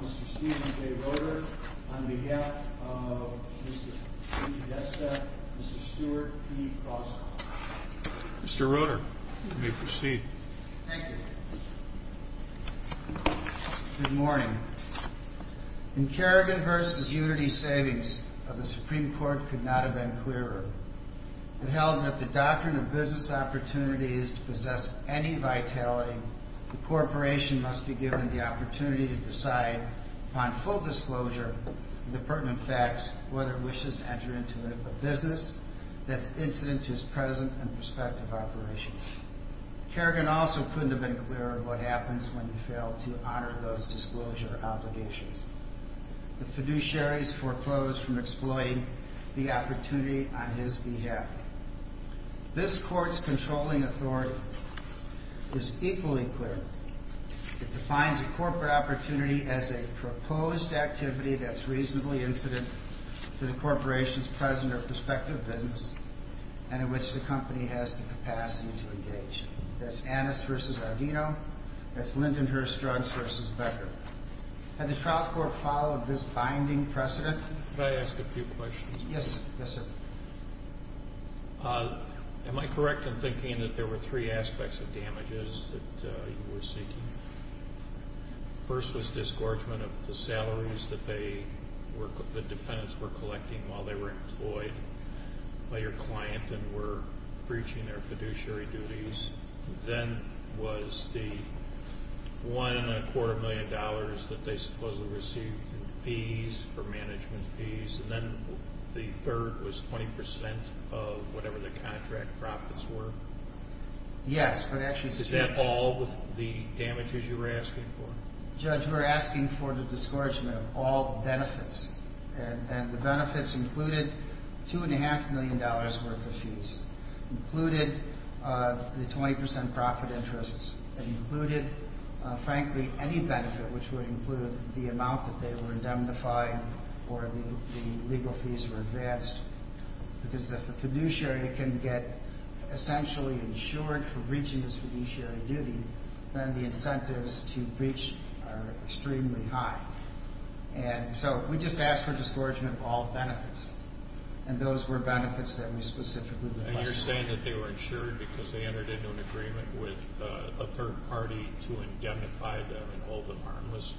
Mr. Steven J. Roeder, on behalf of Mr. DePodesta, Mr. Stewart P. Fosco. Mr. Roeder, you may proceed. Thank you. Good morning. In Kerrigan v. Unity Savings, the Supreme Court could not have been clearer. It held that if the doctrine of business opportunity is to possess any vitality, the corporation must be given the opportunity to decide, upon full disclosure of the pertinent facts, whether it wishes to enter into a business that is incident to its present and prospective operations. Kerrigan also couldn't have been clearer of what happens when you fail to honor those disclosure obligations. The fiduciaries foreclosed from exploiting the opportunity on his behalf. This Court's controlling authority is equally clear. It defines a corporate opportunity as a proposed activity that's reasonably incident to the corporation's present or prospective business and in which the company has the capacity to engage. That's Annis v. Ardino. That's Lindenhurst-Jones v. Becker. Had the trial court followed this binding precedent? Could I ask a few questions? Yes, sir. And then the third was 20 percent of whatever the contract profits were? Yes, but actually... Is that all the damages you were asking for? Judge, we're asking for the discouragement of all benefits, and the benefits included $2.5 million worth of fees, included the 20 percent profit interest, and included, frankly, any benefit which would include the amount that they were indemnified or the legal fees were advanced. Because if a fiduciary can get essentially insured for breaching his fiduciary duty, then the incentives to breach are extremely high. And so we just asked for discouragement of all benefits, and those were benefits that we specifically requested. And you're saying that they were insured because they entered into an agreement with a third party to indemnify them and hold them harmless,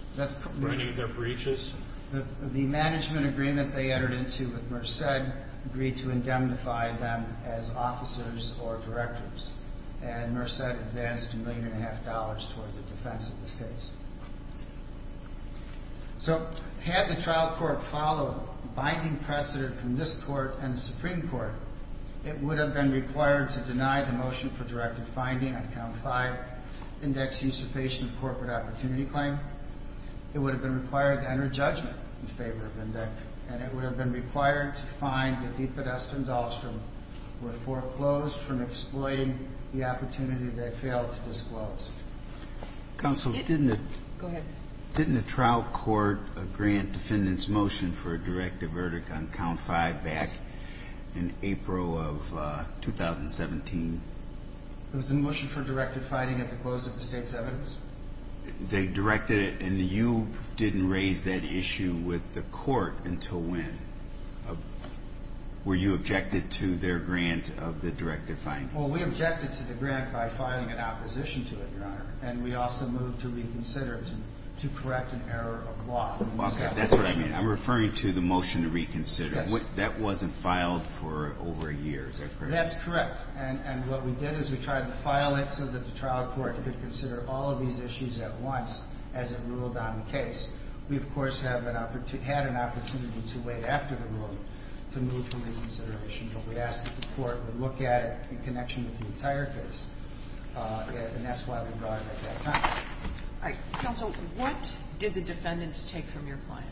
ruining their breaches? The management agreement they entered into with Merced agreed to indemnify them as officers or directors, and Merced advanced $1.5 million towards the defense of this case. So had the trial court followed binding precedent from this court and the Supreme Court, it would have been required to deny the motion for directed finding on Count 5, index usurpation of corporate opportunity claim. It would have been required to enter judgment in favor of index, and it would have been required to find that the pedestrians, Alstrom, were foreclosed from exploiting the opportunity they failed to disclose. Counsel, didn't the trial court grant defendant's motion for a directive verdict on Count 5 back in April of 2017? It was a motion for directed finding at the close of the state's evidence. They directed it, and you didn't raise that issue with the court until when? Were you objected to their grant of the directed finding? Well, we objected to the grant by filing an opposition to it, Your Honor, and we also moved to reconsider to correct an error of law. Okay, that's what I mean. I'm referring to the motion to reconsider. Yes. That wasn't filed for over a year. Is that correct? That's correct, and what we did is we tried to file it so that the trial court could consider all of these issues at once as it ruled on the case. We, of course, had an opportunity to wait after the ruling to move to reconsideration, but we asked that the court would look at it in connection with the entire case, and that's why we brought it at that time. All right. Counsel, what did the defendants take from your client?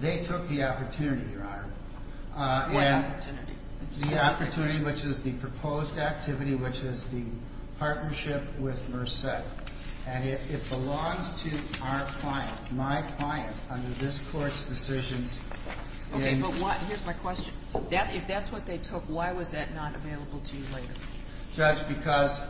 They took the opportunity, Your Honor. What opportunity? The opportunity, which is the proposed activity, which is the partnership with Merced, and it belongs to our client. My client, under this Court's decisions in the case. Okay, but here's my question. If that's what they took, why was that not available to you later? Judge, because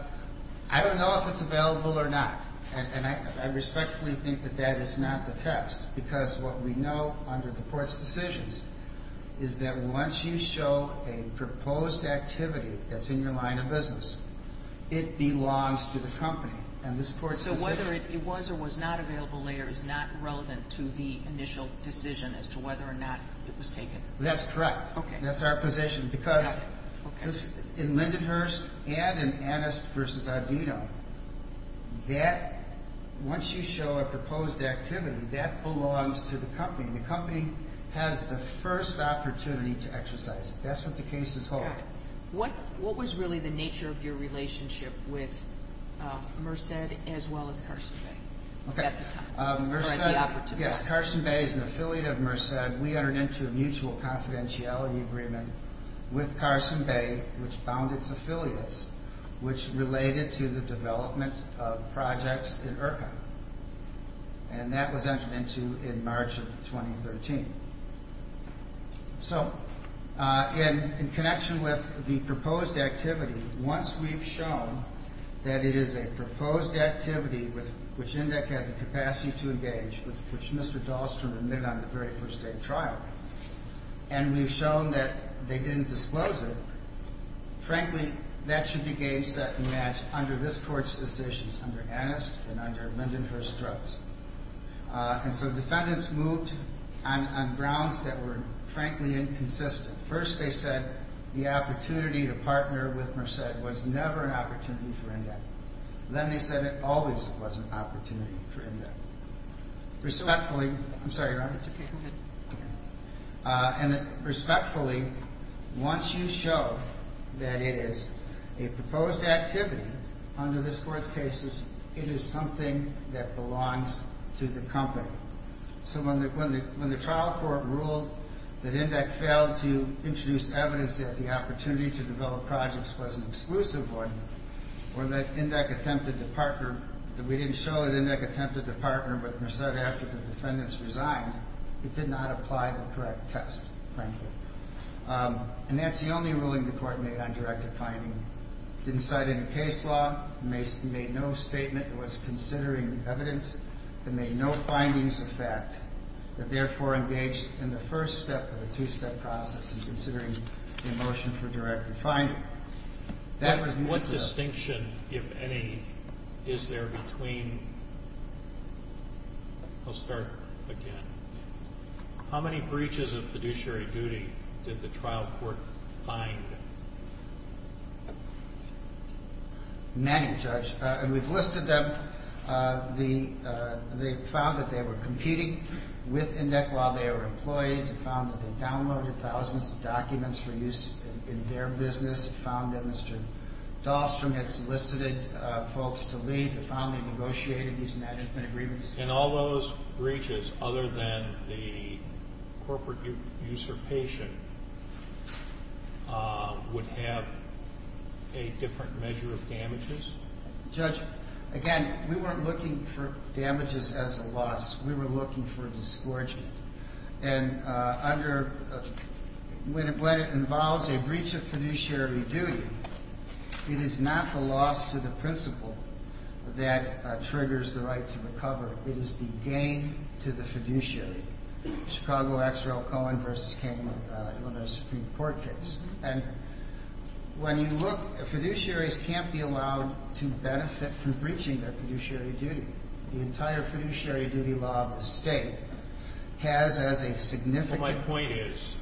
I don't know if it's available or not, and I respectfully think that that is not the test, because what we know under the Court's decisions is that once you show a proposed activity that's in your line of business, it belongs to the company. So whether it was or was not available later is not relevant to the initial decision as to whether or not it was taken? That's correct. Okay. That's our position, because in Lindenhurst and in Annist v. Audino, that, once you show a proposed activity, that belongs to the company. The company has the first opportunity to exercise it. That's what the cases hold. What was really the nature of your relationship with Merced as well as Carson Bay at the time, or at the opportunity? Yes, Carson Bay is an affiliate of Merced. We entered into a mutual confidentiality agreement with Carson Bay, which bound its affiliates, which related to the development of projects in IRCA. And that was entered into in March of 2013. So in connection with the proposed activity, once we've shown that it is a proposed activity which INDEC had the capacity to engage with, which Mr. Dahlstrom admitted on the very first day of trial, and we've shown that they didn't disclose it, frankly, that should be game, set, and matched under this Court's decisions under Annist and under Lindenhurst drugs. And so defendants moved on grounds that were, frankly, inconsistent. First, they said the opportunity to partner with Merced was never an opportunity for INDEC. Then they said it always was an opportunity for INDEC. Respectfully, I'm sorry, Your Honor. It's okay. Go ahead. And respectfully, once you show that it is a proposed activity under this Court's cases, it is something that belongs to the company. So when the trial court ruled that INDEC failed to introduce evidence that the opportunity to develop projects was an exclusive one, or that INDEC attempted to partner, that we didn't show that INDEC attempted to partner with Merced after the defendants resigned, it did not apply to the correct test, frankly. And that's the only ruling the Court made on directive finding. It didn't cite any case law. It made no statement that was considering evidence. It made no findings of fact. It therefore engaged in the first step of a two-step process in considering a motion for directive finding. What distinction, if any, is there between... I'll start again. How many breaches of fiduciary duty did the trial court find? Many, Judge. And we've listed them. They found that they were computing with INDEC while they were employees. They found that they downloaded thousands of documents for use in their business. They found that Mr. Dahlstrom had solicited folks to leave. They found they negotiated these management agreements. And all those breaches, other than the corporate usurpation, would have a different measure of damages? Judge, again, we weren't looking for damages as a loss. We were looking for a disgorgement. And when it involves a breach of fiduciary duty, it is not the loss to the principal that triggers the right to recover. It is the gain to the fiduciary. Chicago X. Raul Cohen v. King, Illinois Supreme Court case. And when you look, fiduciaries can't be allowed to benefit from breaching their fiduciary duty. The entire fiduciary duty law of the state has as a significant. Well, my point is,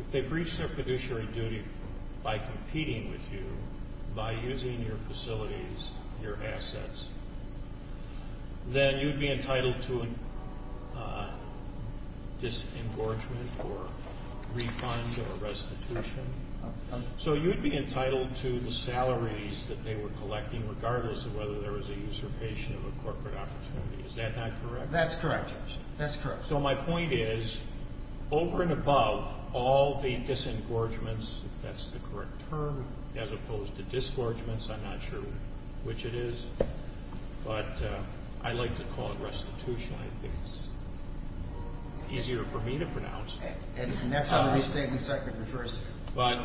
if they breach their fiduciary duty by competing with you, by using your facilities, your assets, then you'd be entitled to a disengorgement or refund or restitution. So you'd be entitled to the salaries that they were collecting, regardless of whether there was a usurpation of a corporate opportunity. Is that not correct? That's correct, Judge. That's correct. So my point is, over and above all the disengorgements, if that's the correct term, as opposed to disgorgements, I'm not sure which it is. But I like to call it restitution. I think it's easier for me to pronounce. And that's how the restatement sector refers to it. But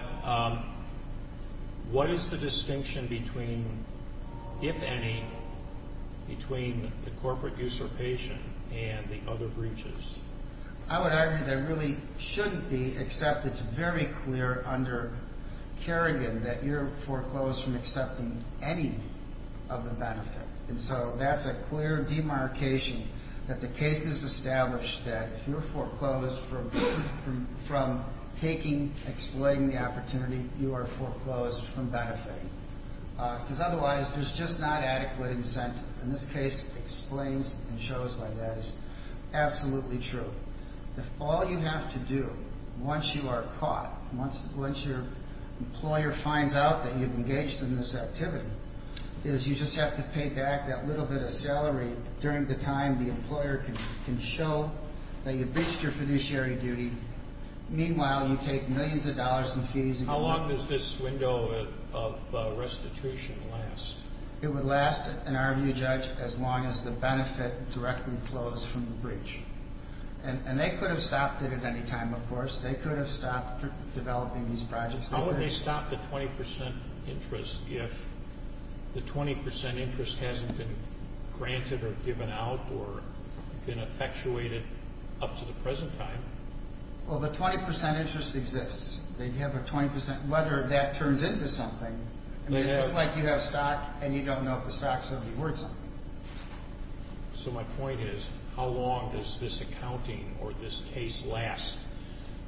what is the distinction between, if any, between the corporate usurpation and the other breaches? I would argue there really shouldn't be, except it's very clear under Kerrigan that you're foreclosed from accepting any of the benefit. And so that's a clear demarcation that the case is established that if you're foreclosed from taking, exploiting the opportunity, you are foreclosed from benefiting. Because otherwise, there's just not adequate incentive. And this case explains and shows why that is absolutely true. If all you have to do, once you are caught, once your employer finds out that you've engaged in this activity, is you just have to pay back that little bit of salary during the time the employer can show that you bitched your fiduciary duty. Meanwhile, you take millions of dollars in fees. How long does this window of restitution last? It would last, in our view, Judge, as long as the benefit directly flows from the breach. And they could have stopped it at any time, of course. They could have stopped developing these projects. How would they stop the 20% interest if the 20% interest hasn't been granted or given out or been effectuated up to the present time? Well, the 20% interest exists. They'd have a 20% whether that turns into something. I mean, it's like you have a stock and you don't know if the stock's going to be worth something. So my point is, how long does this accounting or this case last?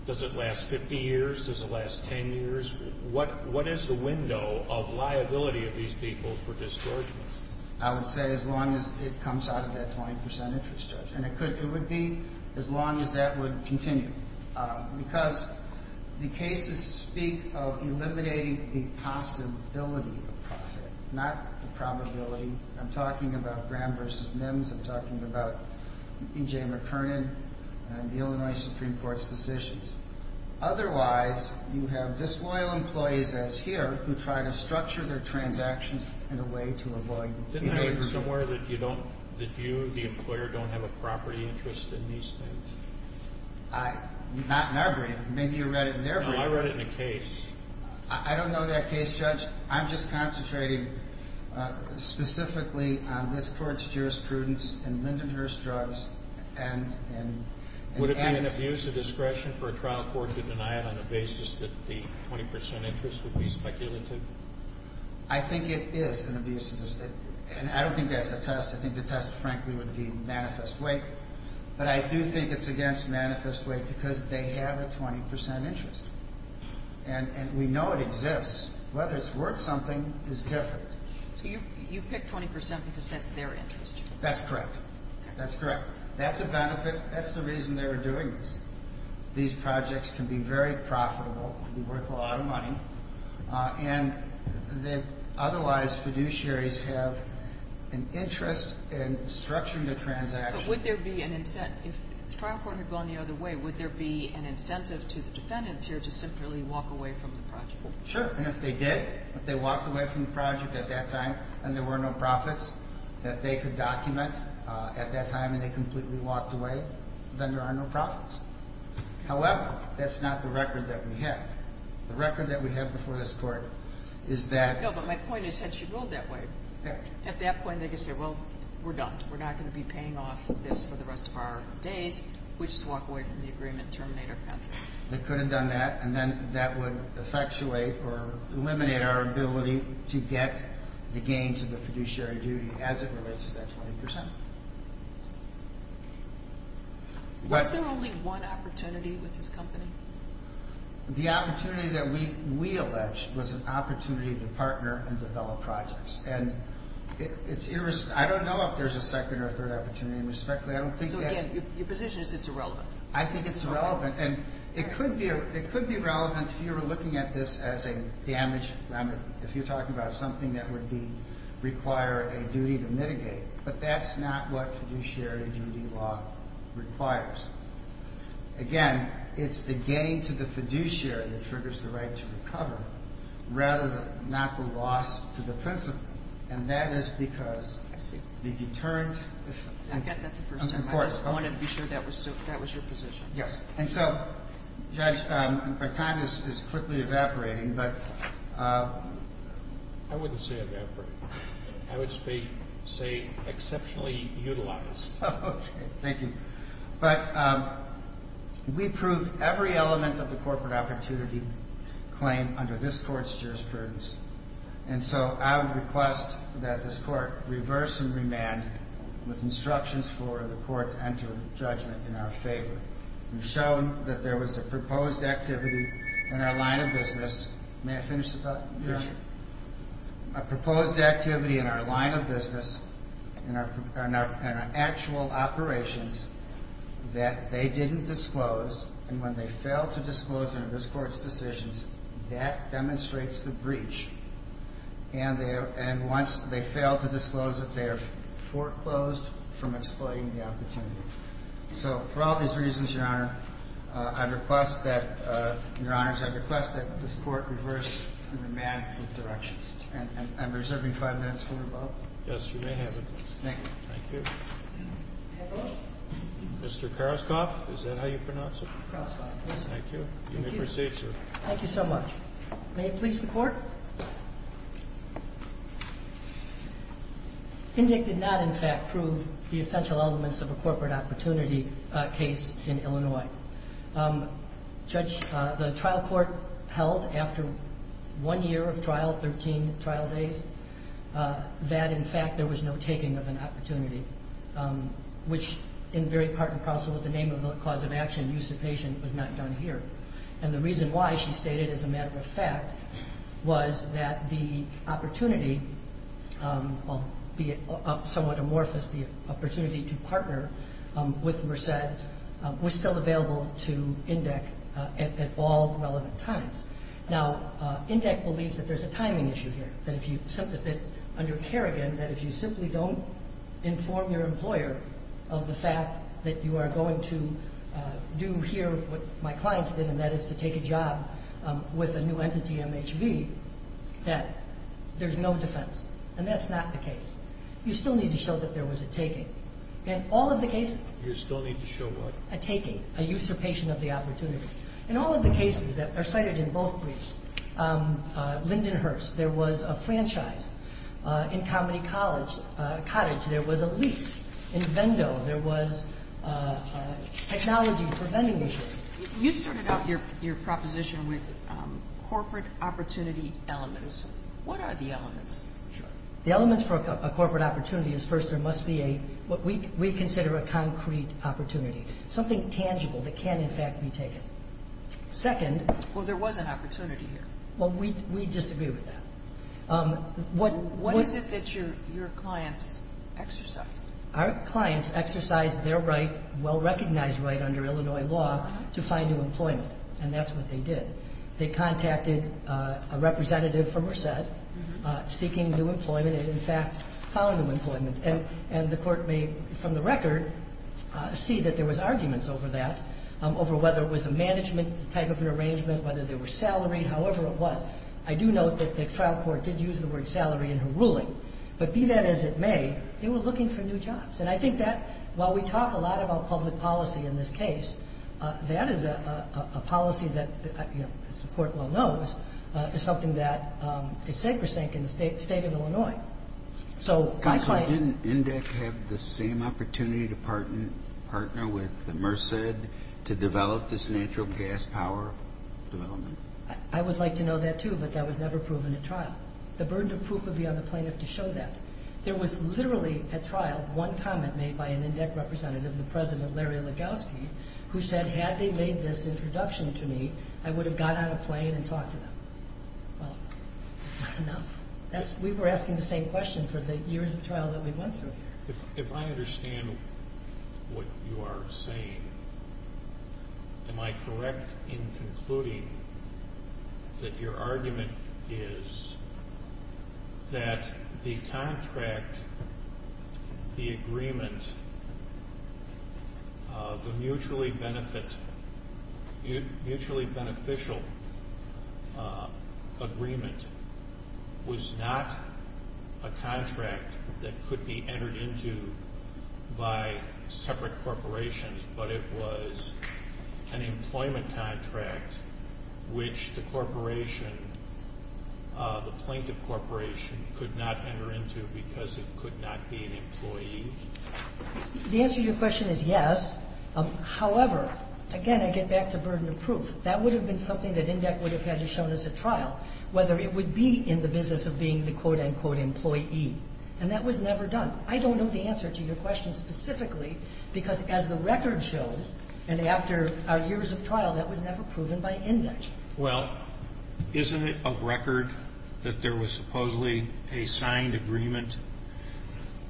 Does it last 50 years? Does it last 10 years? What is the window of liability of these people for dischargement? I would say as long as it comes out of that 20% interest, Judge. And it would be as long as that would continue. Because the cases speak of eliminating the possibility of profit, not the probability. I'm talking about Graham v. Mims. I'm talking about E.J. McKernan and the Illinois Supreme Court's decisions. Otherwise, you have disloyal employees, as here, who try to structure their transactions in a way to avoid behaviorism. Didn't I read somewhere that you, the employer, don't have a property interest in these things? Not in our brief. Maybe you read it in their brief. No, I read it in a case. I don't know that case, Judge. I'm just concentrating specifically on this Court's jurisprudence in Lindenhurst drugs. Would it be an abuse of discretion for a trial court to deny it on the basis that the 20% interest would be speculative? I think it is an abuse of discretion. And I don't think that's a test. I think the test, frankly, would be manifest weight. But I do think it's against manifest weight because they have a 20% interest. And we know it exists. Whether it's worth something is different. So you pick 20% because that's their interest? That's correct. That's a benefit. That's the reason they were doing this. These projects can be very profitable, can be worth a lot of money. And otherwise, fiduciaries have an interest in structuring their transactions. But would there be an incentive? If the trial court had gone the other way, would there be an incentive to the defendants here to simply walk away from the project? Sure. And if they did, if they walked away from the project at that time and there were no profits, that they could document at that time and they completely walked away, then there are no profits. However, that's not the record that we have. The record that we have before this Court is that — No, but my point is, had she ruled that way, at that point they could say, well, we're done. We're not going to be paying off this for the rest of our days. We'll just walk away from the agreement and terminate our contract. They could have done that. And then that would effectuate or eliminate our ability to get the gains of the fiduciary duty as it relates to that 20%. Was there only one opportunity with this company? The opportunity that we alleged was an opportunity to partner and develop projects. And it's — I don't know if there's a second or third opportunity, and respectfully, I don't think that's — So, again, your position is it's irrelevant. I think it's relevant. And it could be — it could be relevant if you were looking at this as a damage remedy, if you're talking about something that would be — require a duty to mitigate. But that's not what fiduciary duty law requires. Again, it's the gain to the fiduciary that triggers the right to recover, rather than not the loss to the principal. And that is because the deterrent — I get that the first time. Of course. I just wanted to be sure that was your position. Yes. And so, Judge, our time is quickly evaporating, but — I wouldn't say evaporate. I would say exceptionally utilized. Okay. Thank you. But we proved every element of the corporate opportunity claim under this Court's jurisprudence. And so I would request that this Court reverse and remand with instructions for the Court to enter a judgment in our favor. We've shown that there was a proposed activity in our line of business — may I finish the question? Yes, Your Honor. A proposed activity in our line of business, in our actual operations, that they didn't disclose. And when they fail to disclose in this Court's decisions, that demonstrates the breach. And once they fail to disclose it, they are foreclosed from exploiting the opportunity. So for all these reasons, Your Honor, I'd request that — Your Honors, I'd request that this Court reverse and remand with directions. And I'm reserving five minutes for a vote. Yes, you may have it. Thank you. Thank you. I have a motion. Mr. Karaskoff, is that how you pronounce it? Karaskoff, yes. Thank you. Thank you. You may proceed, sir. Thank you so much. May it please the Court? Indict did not, in fact, prove the essential elements of a corporate opportunity case in Illinois. Judge, the trial court held after one year of trial, 13 trial days, that, in fact, there was no taking of an opportunity, which, in very part and parcel of the name of the cause of action, usurpation, was not done here. And the reason why, she stated as a matter of fact, was that the opportunity, be it somewhat amorphous, the opportunity to partner with Merced, was still available to Indict at all relevant times. Now, Indict believes that there's a timing issue here. That under Kerrigan, that if you simply don't inform your employer of the fact that you are going to do here what my clients did, and that is to take a job with a new entity, MHV, that there's no defense. And that's not the case. You still need to show that there was a taking. In all of the cases. You still need to show what? A taking, a usurpation of the opportunity. In all of the cases that are cited in both briefs, Lindenhurst, there was a franchise. In Comedy Cottage, there was a lease. In Vendo, there was technology for vending machines. You started out your proposition with corporate opportunity elements. What are the elements? Sure. The elements for a corporate opportunity is, first, there must be what we consider a concrete opportunity, something tangible that can, in fact, be taken. Second. Well, there was an opportunity here. Well, we disagree with that. What is it that your clients exercised? Our clients exercised their right, well-recognized right under Illinois law, to find new employment. And that's what they did. They contacted a representative from Merced seeking new employment and, in fact, found new employment. And the Court may, from the record, see that there was arguments over that, over whether it was a management type of an arrangement, whether there were salary, however it was. I do note that the trial court did use the word salary in her ruling. But be that as it may, they were looking for new jobs. And I think that while we talk a lot about public policy in this case, that is a policy that, as the Court well knows, is something that is sacrosanct in the State of Illinois. Counsel, didn't INDEC have the same opportunity to partner with Merced to develop this natural gas power development? I would like to know that, too, but that was never proven at trial. The burden of proof would be on the plaintiff to show that. There was literally, at trial, one comment made by an INDEC representative, the President Larry Legowski, who said, had they made this introduction to me, I would have got on a plane and talked to them. Well, that's not enough. We were asking the same question for the years of trial that we went through here. If I understand what you are saying, am I correct in concluding that your argument is that the contract, the agreement, the mutually beneficial agreement was not a contract that could be entered into by separate corporations, but it was an employment contract which the corporation, the plaintiff corporation, could not enter into because it could not be an employee? The answer to your question is yes. However, again, I get back to burden of proof. That would have been something that INDEC would have had shown at trial, whether it would be in the business of being the quote, unquote, employee. And that was never done. I don't know the answer to your question specifically because, as the record shows, and after our years of trial, that was never proven by INDEC. Well, isn't it of record that there was supposedly a signed agreement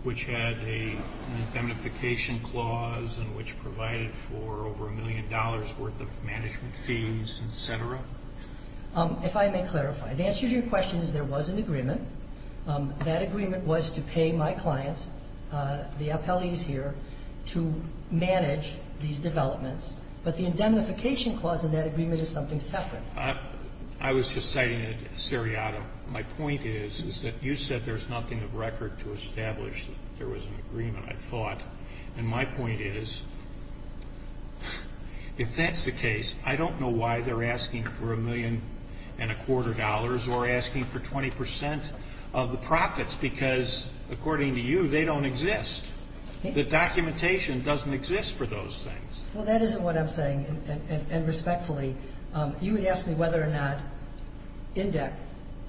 which had an indemnification clause and which provided for over a million dollars' worth of management fees, et cetera? If I may clarify, the answer to your question is there was an agreement. That agreement was to pay my clients, the appellees here, to manage these developments. But the indemnification clause in that agreement is something separate. I was just citing it seriato. My point is, is that you said there's nothing of record to establish that there was an agreement, I thought. And my point is, if that's the case, I don't know why they're asking for a million and a quarter dollars or asking for 20 percent of the profits because, according to you, they don't exist. The documentation doesn't exist for those things. Well, that isn't what I'm saying. And respectfully, you would ask me whether or not INDEC,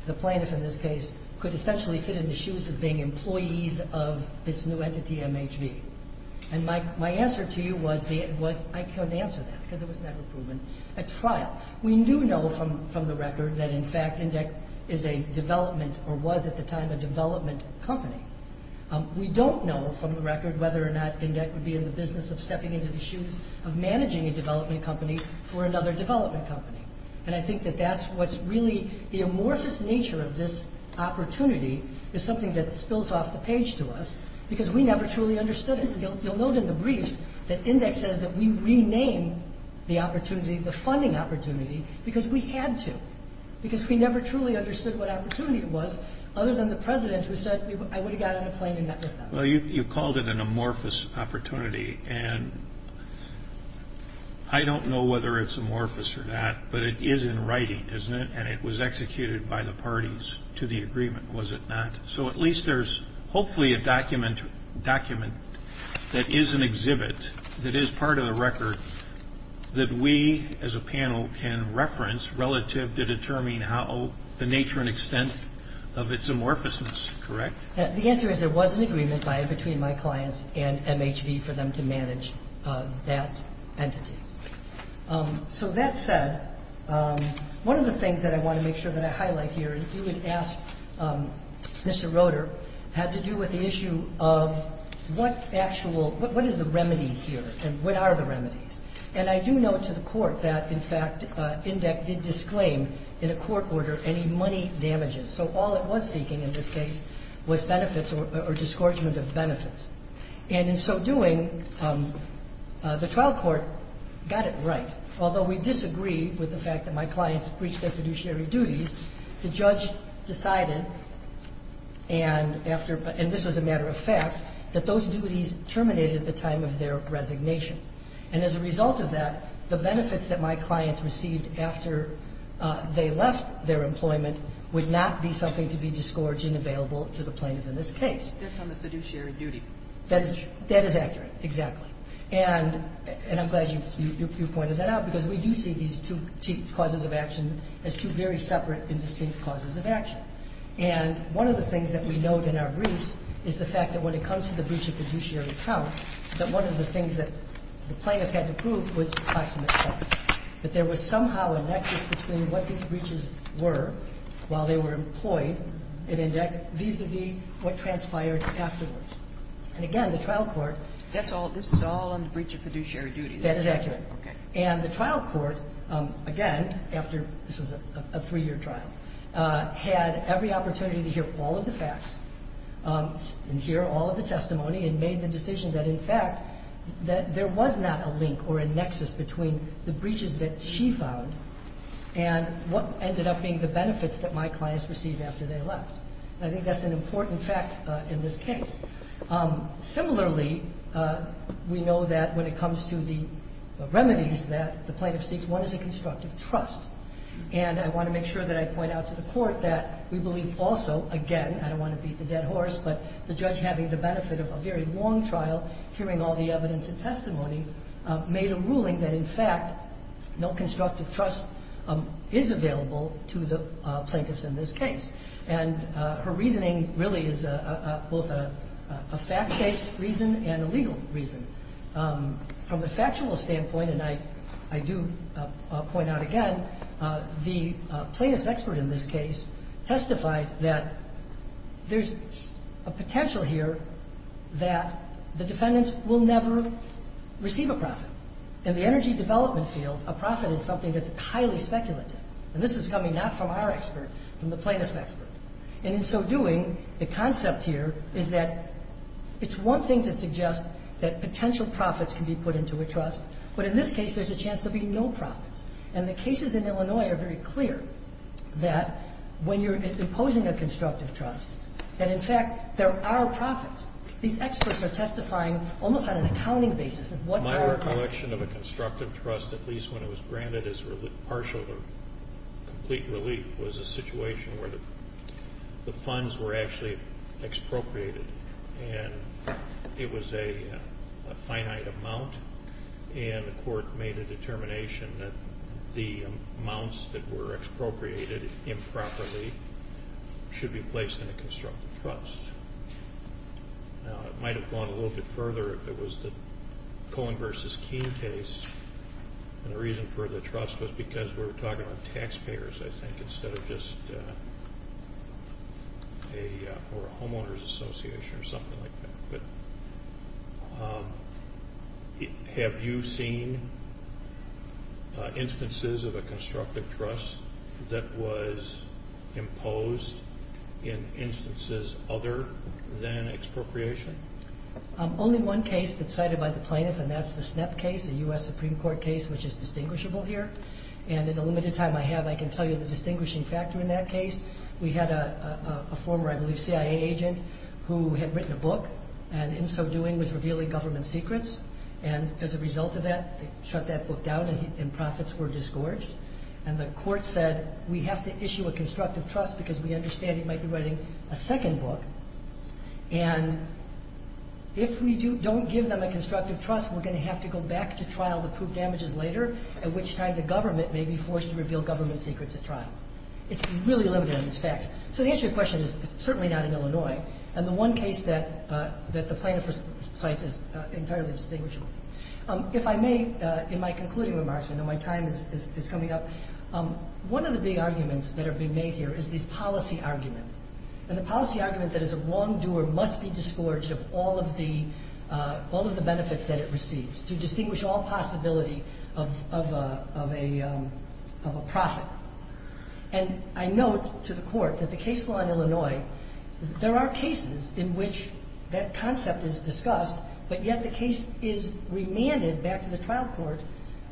the plaintiff in this case, could essentially fit in the shoes of being employees of this new entity, MHV. And my answer to you was I couldn't answer that because it was never proven at trial. We do know from the record that, in fact, INDEC is a development or was at the time a development company. We don't know from the record whether or not INDEC would be in the business of stepping into the shoes of managing a development company for another development company. And I think that that's what's really the amorphous nature of this opportunity is something that spills off the page to us because we never truly understood it. You'll note in the briefs that INDEC says that we rename the opportunity, the funding opportunity, because we had to because we never truly understood what opportunity was other than the president who said I would have got on a plane and met with them. Well, you called it an amorphous opportunity. And I don't know whether it's amorphous or not, but it is in writing, isn't it? And it was executed by the parties to the agreement, was it not? So at least there's hopefully a document that is an exhibit that is part of the record that we as a panel can reference relative to determining how the nature and extent of its amorphousness. Correct? The answer is there was an agreement between my clients and MHV for them to manage that entity. So that said, one of the things that I want to make sure that I highlight here, and if you would ask Mr. Roeder, had to do with the issue of what is the remedy here and what are the remedies. And I do note to the court that, in fact, INDEC did disclaim in a court order any money damages. So all it was seeking in this case was benefits or disgorgement of benefits. And in so doing, the trial court got it right. Although we disagree with the fact that my clients breached their fiduciary duties, the judge decided, and this was a matter of fact, that those duties terminated at the time of their resignation. And as a result of that, the benefits that my clients received after they left their employment would not be something to be disgorged and available to the plaintiff in this case. That's on the fiduciary duty. That is accurate, exactly. And I'm glad you pointed that out, because we do see these two causes of action as two very separate and distinct causes of action. And one of the things that we note in our briefs is the fact that when it comes to the breach of fiduciary account, that one of the things that the plaintiff had to prove was proximate cause, that there was somehow a nexus between what these breaches were while they were employed in INDEC vis-à-vis what transpired afterwards. And again, the trial court... This is all on the breach of fiduciary duties. That is accurate. Okay. And the trial court, again, after this was a three-year trial, had every opportunity to hear all of the facts and hear all of the testimony and made the decision that, in fact, that there was not a link or a nexus between the breaches that she found and what ended up being the benefits that my clients received after they left. And I think that's an important fact in this case. Similarly, we know that when it comes to the remedies that the plaintiff seeks, one is a constructive trust. And I want to make sure that I point out to the court that we believe also, again, I don't want to beat the dead horse, but the judge having the benefit of a very long trial, hearing all the evidence and testimony, made a ruling that, in fact, no constructive trust is available to the plaintiffs in this case. And her reasoning really is both a fact-based reason and a legal reason. From a factual standpoint, and I do point out again, the plaintiff's expert in this case testified that there's a potential here that the defendants will never receive a profit. In the energy development field, a profit is something that's highly speculative. And this is coming not from our expert, from the plaintiff's expert. And in so doing, the concept here is that it's one thing to suggest that potential profits can be put into a trust. But in this case, there's a chance there'll be no profits. And the cases in Illinois are very clear that when you're imposing a constructive trust, that, in fact, there are profits. These experts are testifying almost on an accounting basis of what they are collecting. The collection of a constructive trust, at least when it was granted as partial or complete relief, was a situation where the funds were actually expropriated. And it was a finite amount. And the court made a determination that the amounts that were expropriated improperly should be placed in a constructive trust. Now, it might have gone a little bit further if it was the Cohen versus Keene case. And the reason for the trust was because we were talking about taxpayers, I think, instead of just a homeowners association or something like that. But have you seen instances of a constructive trust that was imposed in instances other than expropriation? Only one case that's cited by the plaintiff, and that's the SNEP case, the U.S. Supreme Court case, which is distinguishable here. And in the limited time I have, I can tell you the distinguishing factor in that case. We had a former, I believe, CIA agent who had written a book and in so doing was revealing government secrets. And as a result of that, they shut that book down and profits were disgorged. And the court said, We have to issue a constructive trust because we understand that they might be writing a second book. And if we don't give them a constructive trust, we're going to have to go back to trial to prove damages later, at which time the government may be forced to reveal government secrets at trial. It's really limited in these facts. So the answer to your question is it's certainly not in Illinois. And the one case that the plaintiff cites is entirely distinguishable. If I may, in my concluding remarks, I know my time is coming up, one of the big And the policy argument that is a wrongdoer must be disgorged of all of the benefits that it receives, to distinguish all possibility of a profit. And I note to the Court that the case law in Illinois, there are cases in which that concept is discussed, but yet the case is remanded back to the trial court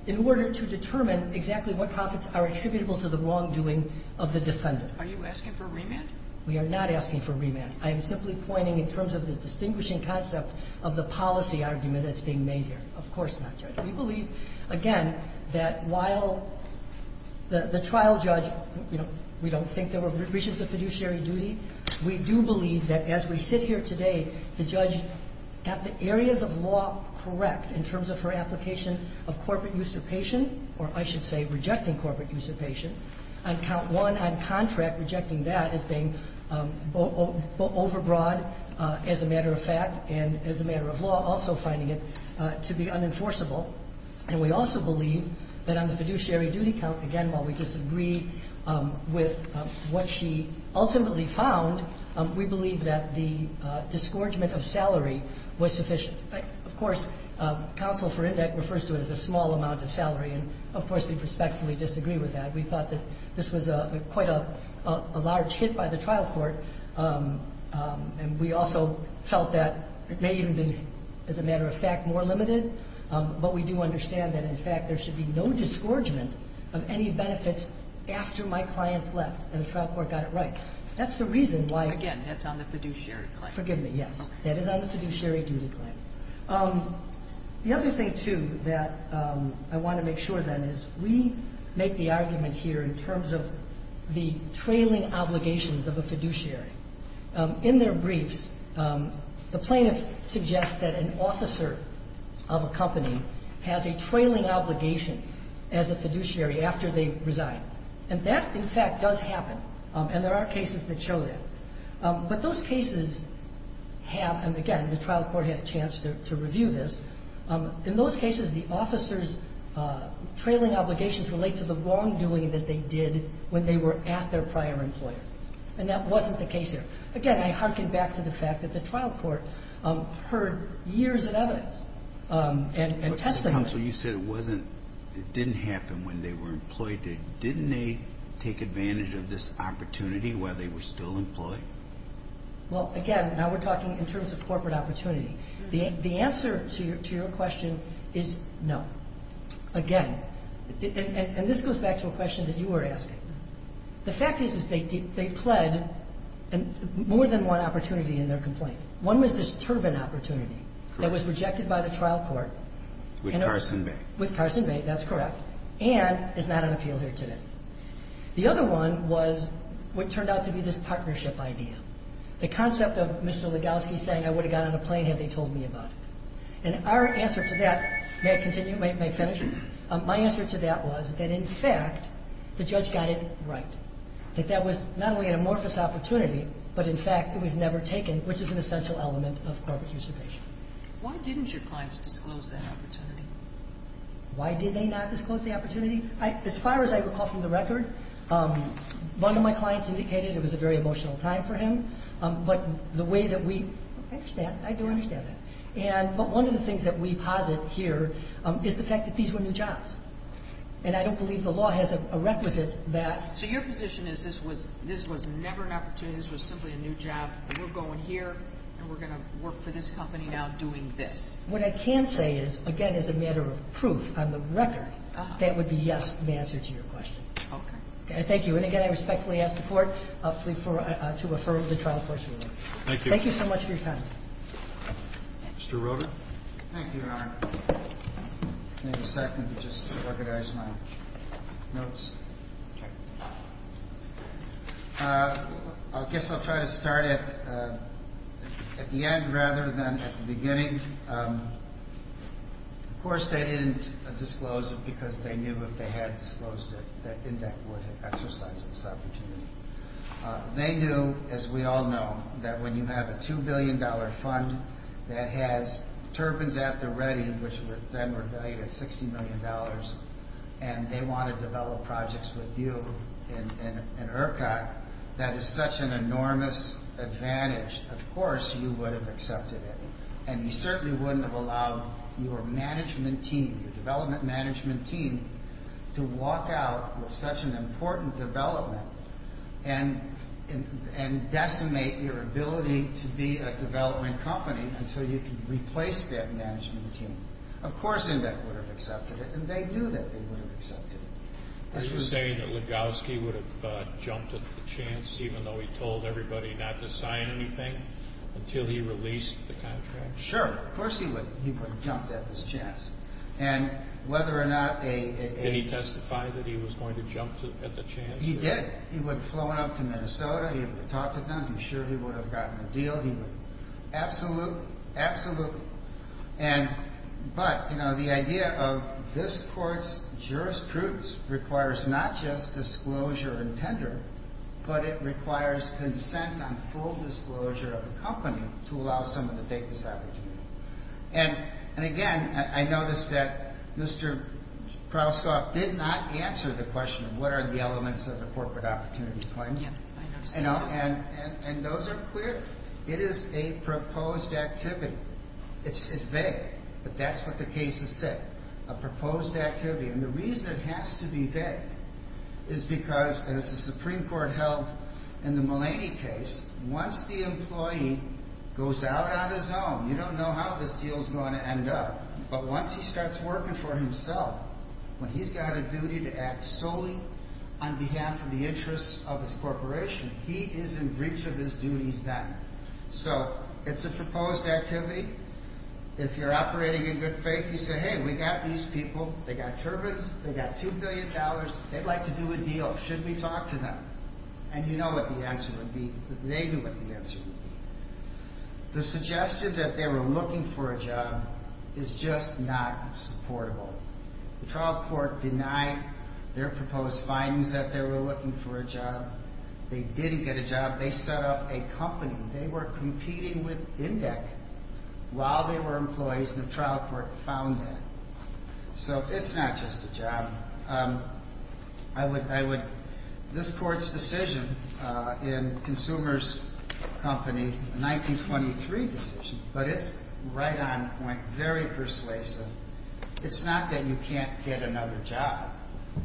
in order to determine exactly what profits are attributable to the wrongdoing of the defendants. Are you asking for remand? We are not asking for remand. I am simply pointing in terms of the distinguishing concept of the policy argument that's being made here. Of course not, Judge. We believe, again, that while the trial judge, we don't think there were breaches of fiduciary duty, we do believe that as we sit here today, the judge got the areas of law correct in terms of her application of corporate usurpation, or I should say rejecting corporate usurpation. On count one, on contract, rejecting that as being overbroad as a matter of fact and as a matter of law, also finding it to be unenforceable. And we also believe that on the fiduciary duty count, again, while we disagree with what she ultimately found, we believe that the disgorgement of salary was sufficient. Of course, counsel for index refers to it as a small amount of salary. And, of course, we respectfully disagree with that. We thought that this was quite a large hit by the trial court. And we also felt that it may even have been, as a matter of fact, more limited. But we do understand that, in fact, there should be no disgorgement of any benefits after my client's left and the trial court got it right. That's the reason why. Again, that's on the fiduciary claim. Forgive me, yes. That is on the fiduciary duty claim. The other thing, too, that I want to make sure, then, is we make the argument here in terms of the trailing obligations of a fiduciary. In their briefs, the plaintiff suggests that an officer of a company has a trailing obligation as a fiduciary after they resign. And that, in fact, does happen. And there are cases that show that. But those cases have, and again, the trial court had a chance to review this. In those cases, the officer's trailing obligations relate to the wrongdoing that they did when they were at their prior employer. And that wasn't the case here. Again, I hearken back to the fact that the trial court heard years of evidence and tested them. Counsel, you said it didn't happen when they were employed. Didn't they take advantage of this opportunity while they were still employed? Well, again, now we're talking in terms of corporate opportunity. The answer to your question is no. Again, and this goes back to a question that you were asking. The fact is they pled more than one opportunity in their complaint. One was this turban opportunity that was rejected by the trial court. With Carson Bay. With Carson Bay. That's correct. And is not on appeal here today. The other one was what turned out to be this partnership idea. The concept of Mr. Legowski saying I would have got on a plane had they told me about it. And our answer to that, may I continue? May I finish? My answer to that was that, in fact, the judge got it right. That that was not only an amorphous opportunity, but, in fact, it was never taken, which is an essential element of corporate usurpation. Why didn't your clients disclose that opportunity? Why did they not disclose the opportunity? As far as I recall from the record, one of my clients indicated it was a very emotional time for him. But the way that we, I understand. I do understand that. But one of the things that we posit here is the fact that these were new jobs. And I don't believe the law has a requisite that. So your position is this was never an opportunity. This was simply a new job. We're going here and we're going to work for this company now doing this. What I can say is, again, as a matter of proof on the record, that would be yes to the answer to your question. Okay. Thank you. And, again, I respectfully ask the Court to refer the trial court's ruling. Thank you. Thank you so much for your time. Mr. Roder. Thank you, Your Honor. May I have a second to just organize my notes? Okay. I guess I'll try to start at the end rather than at the beginning. Of course, they didn't disclose it because they knew if they had disclosed it that INDEC would have exercised this opportunity. They knew, as we all know, that when you have a $2 billion fund that has turbines at the ready, which then were valued at $60 million, and they want to develop projects with you in ERCA, that is such an enormous advantage. Of course, you would have accepted it, and you certainly wouldn't have allowed your management team, your development management team, to walk out with such an important development and decimate your ability to be a development company until you could replace that management team. Of course, INDEC would have accepted it, and they knew that they would have accepted it. Are you saying that Legowski would have jumped at the chance, even though he told everybody not to sign anything, until he released the contract? Sure. Of course, he would have jumped at this chance. And whether or not a Did he testify that he was going to jump at the chance? He did. He would have flown up to Minnesota. He would have talked to them. I'm sure he would have gotten a deal. He would have. Absolutely. Absolutely. But, you know, the idea of this Court's jurisprudence requires not just disclosure and tender, but it requires consent on full disclosure of the company to allow someone to take this opportunity. And, again, I noticed that Mr. Krauskopf did not answer the question of what are the elements of a corporate opportunity claim. Yeah, I noticed that, too. And those are clear. It is a proposed activity. It's vague, but that's what the case has said, a proposed activity. And the reason it has to be vague is because, as the Supreme Court held in the Mulaney case, once the employee goes out on his own, you don't know how this deal is going to end up, but once he starts working for himself, when he's got a duty to act solely on behalf of the interests of his corporation, he is in breach of his duties then. So it's a proposed activity. If you're operating in good faith, you say, hey, we got these people. They got turbines. They got $2 billion. They'd like to do a deal. Should we talk to them? And you know what the answer would be. They knew what the answer would be. The suggestion that they were looking for a job is just not supportable. The trial court denied their proposed findings that they were looking for a job. They didn't get a job. They set up a company. They were competing with Indec. While they were employees, the trial court found that. So it's not just a job. This court's decision in Consumers Company, a 1923 decision, but it's right on point, very persuasive. It's not that you can't get another job.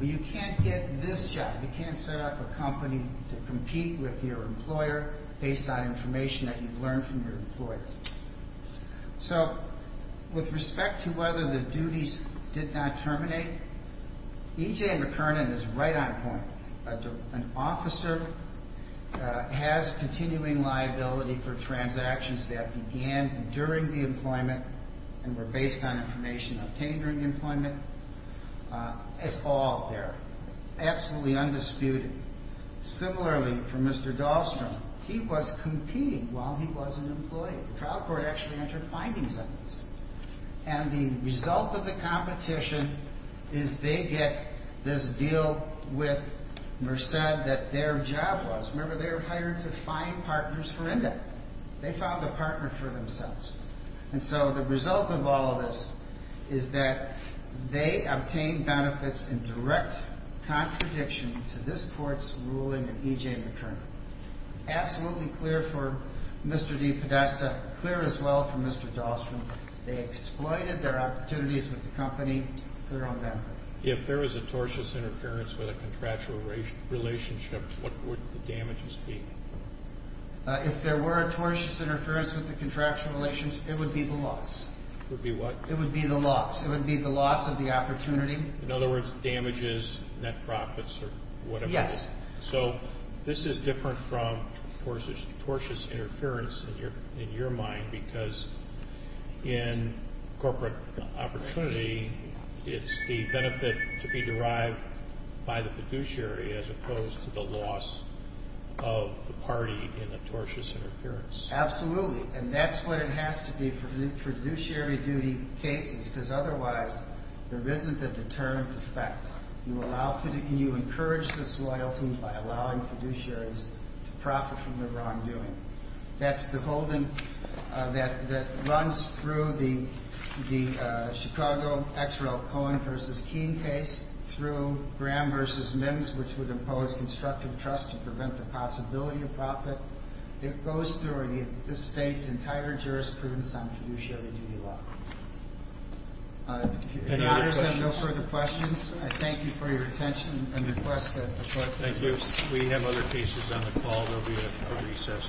You can't get this job. You can't set up a company to compete with your employer based on information that you've learned from your employer. So with respect to whether the duties did not terminate, E.J. McKernan is right on point. An officer has continuing liability for transactions that began during the employment and were based on information obtained during employment. It's all there, absolutely undisputed. Similarly, for Mr. Dahlstrom, he was competing while he was an employee. The trial court actually entered findings on this. And the result of the competition is they get this deal with Merced that their job was. Remember, they were hired to find partners for Indec. They found a partner for themselves. And so the result of all of this is that they obtained benefits in direct contradiction to this court's ruling in E.J. McKernan. Absolutely clear for Mr. D. Podesta, clear as well for Mr. Dahlstrom. They exploited their opportunities with the company. Clear on that. If there was a tortious interference with a contractual relationship, what would the damages be? If there were a tortious interference with the contractual relations, it would be the loss. It would be what? It would be the loss. It would be the loss of the opportunity. In other words, damages, net profits or whatever? Yes. So this is different from tortious interference in your mind because in corporate opportunity, it's the benefit to be derived by the fiduciary as opposed to the loss of the party in the tortious interference. Absolutely. And that's what it has to be for fiduciary duty cases because otherwise there isn't a deterrent effect. And you encourage this loyalty by allowing fiduciaries to profit from the wrongdoing. That's the holding that runs through the Chicago Exerell Cohen v. Keene case, through Graham v. Mims, which would impose constructive trust to prevent the possibility of profit. It goes through the state's entire jurisprudence on fiduciary duty law. Any other questions? I thank you for your attention and request that the Court. Thank you. We have other cases on the call. There will be a recess.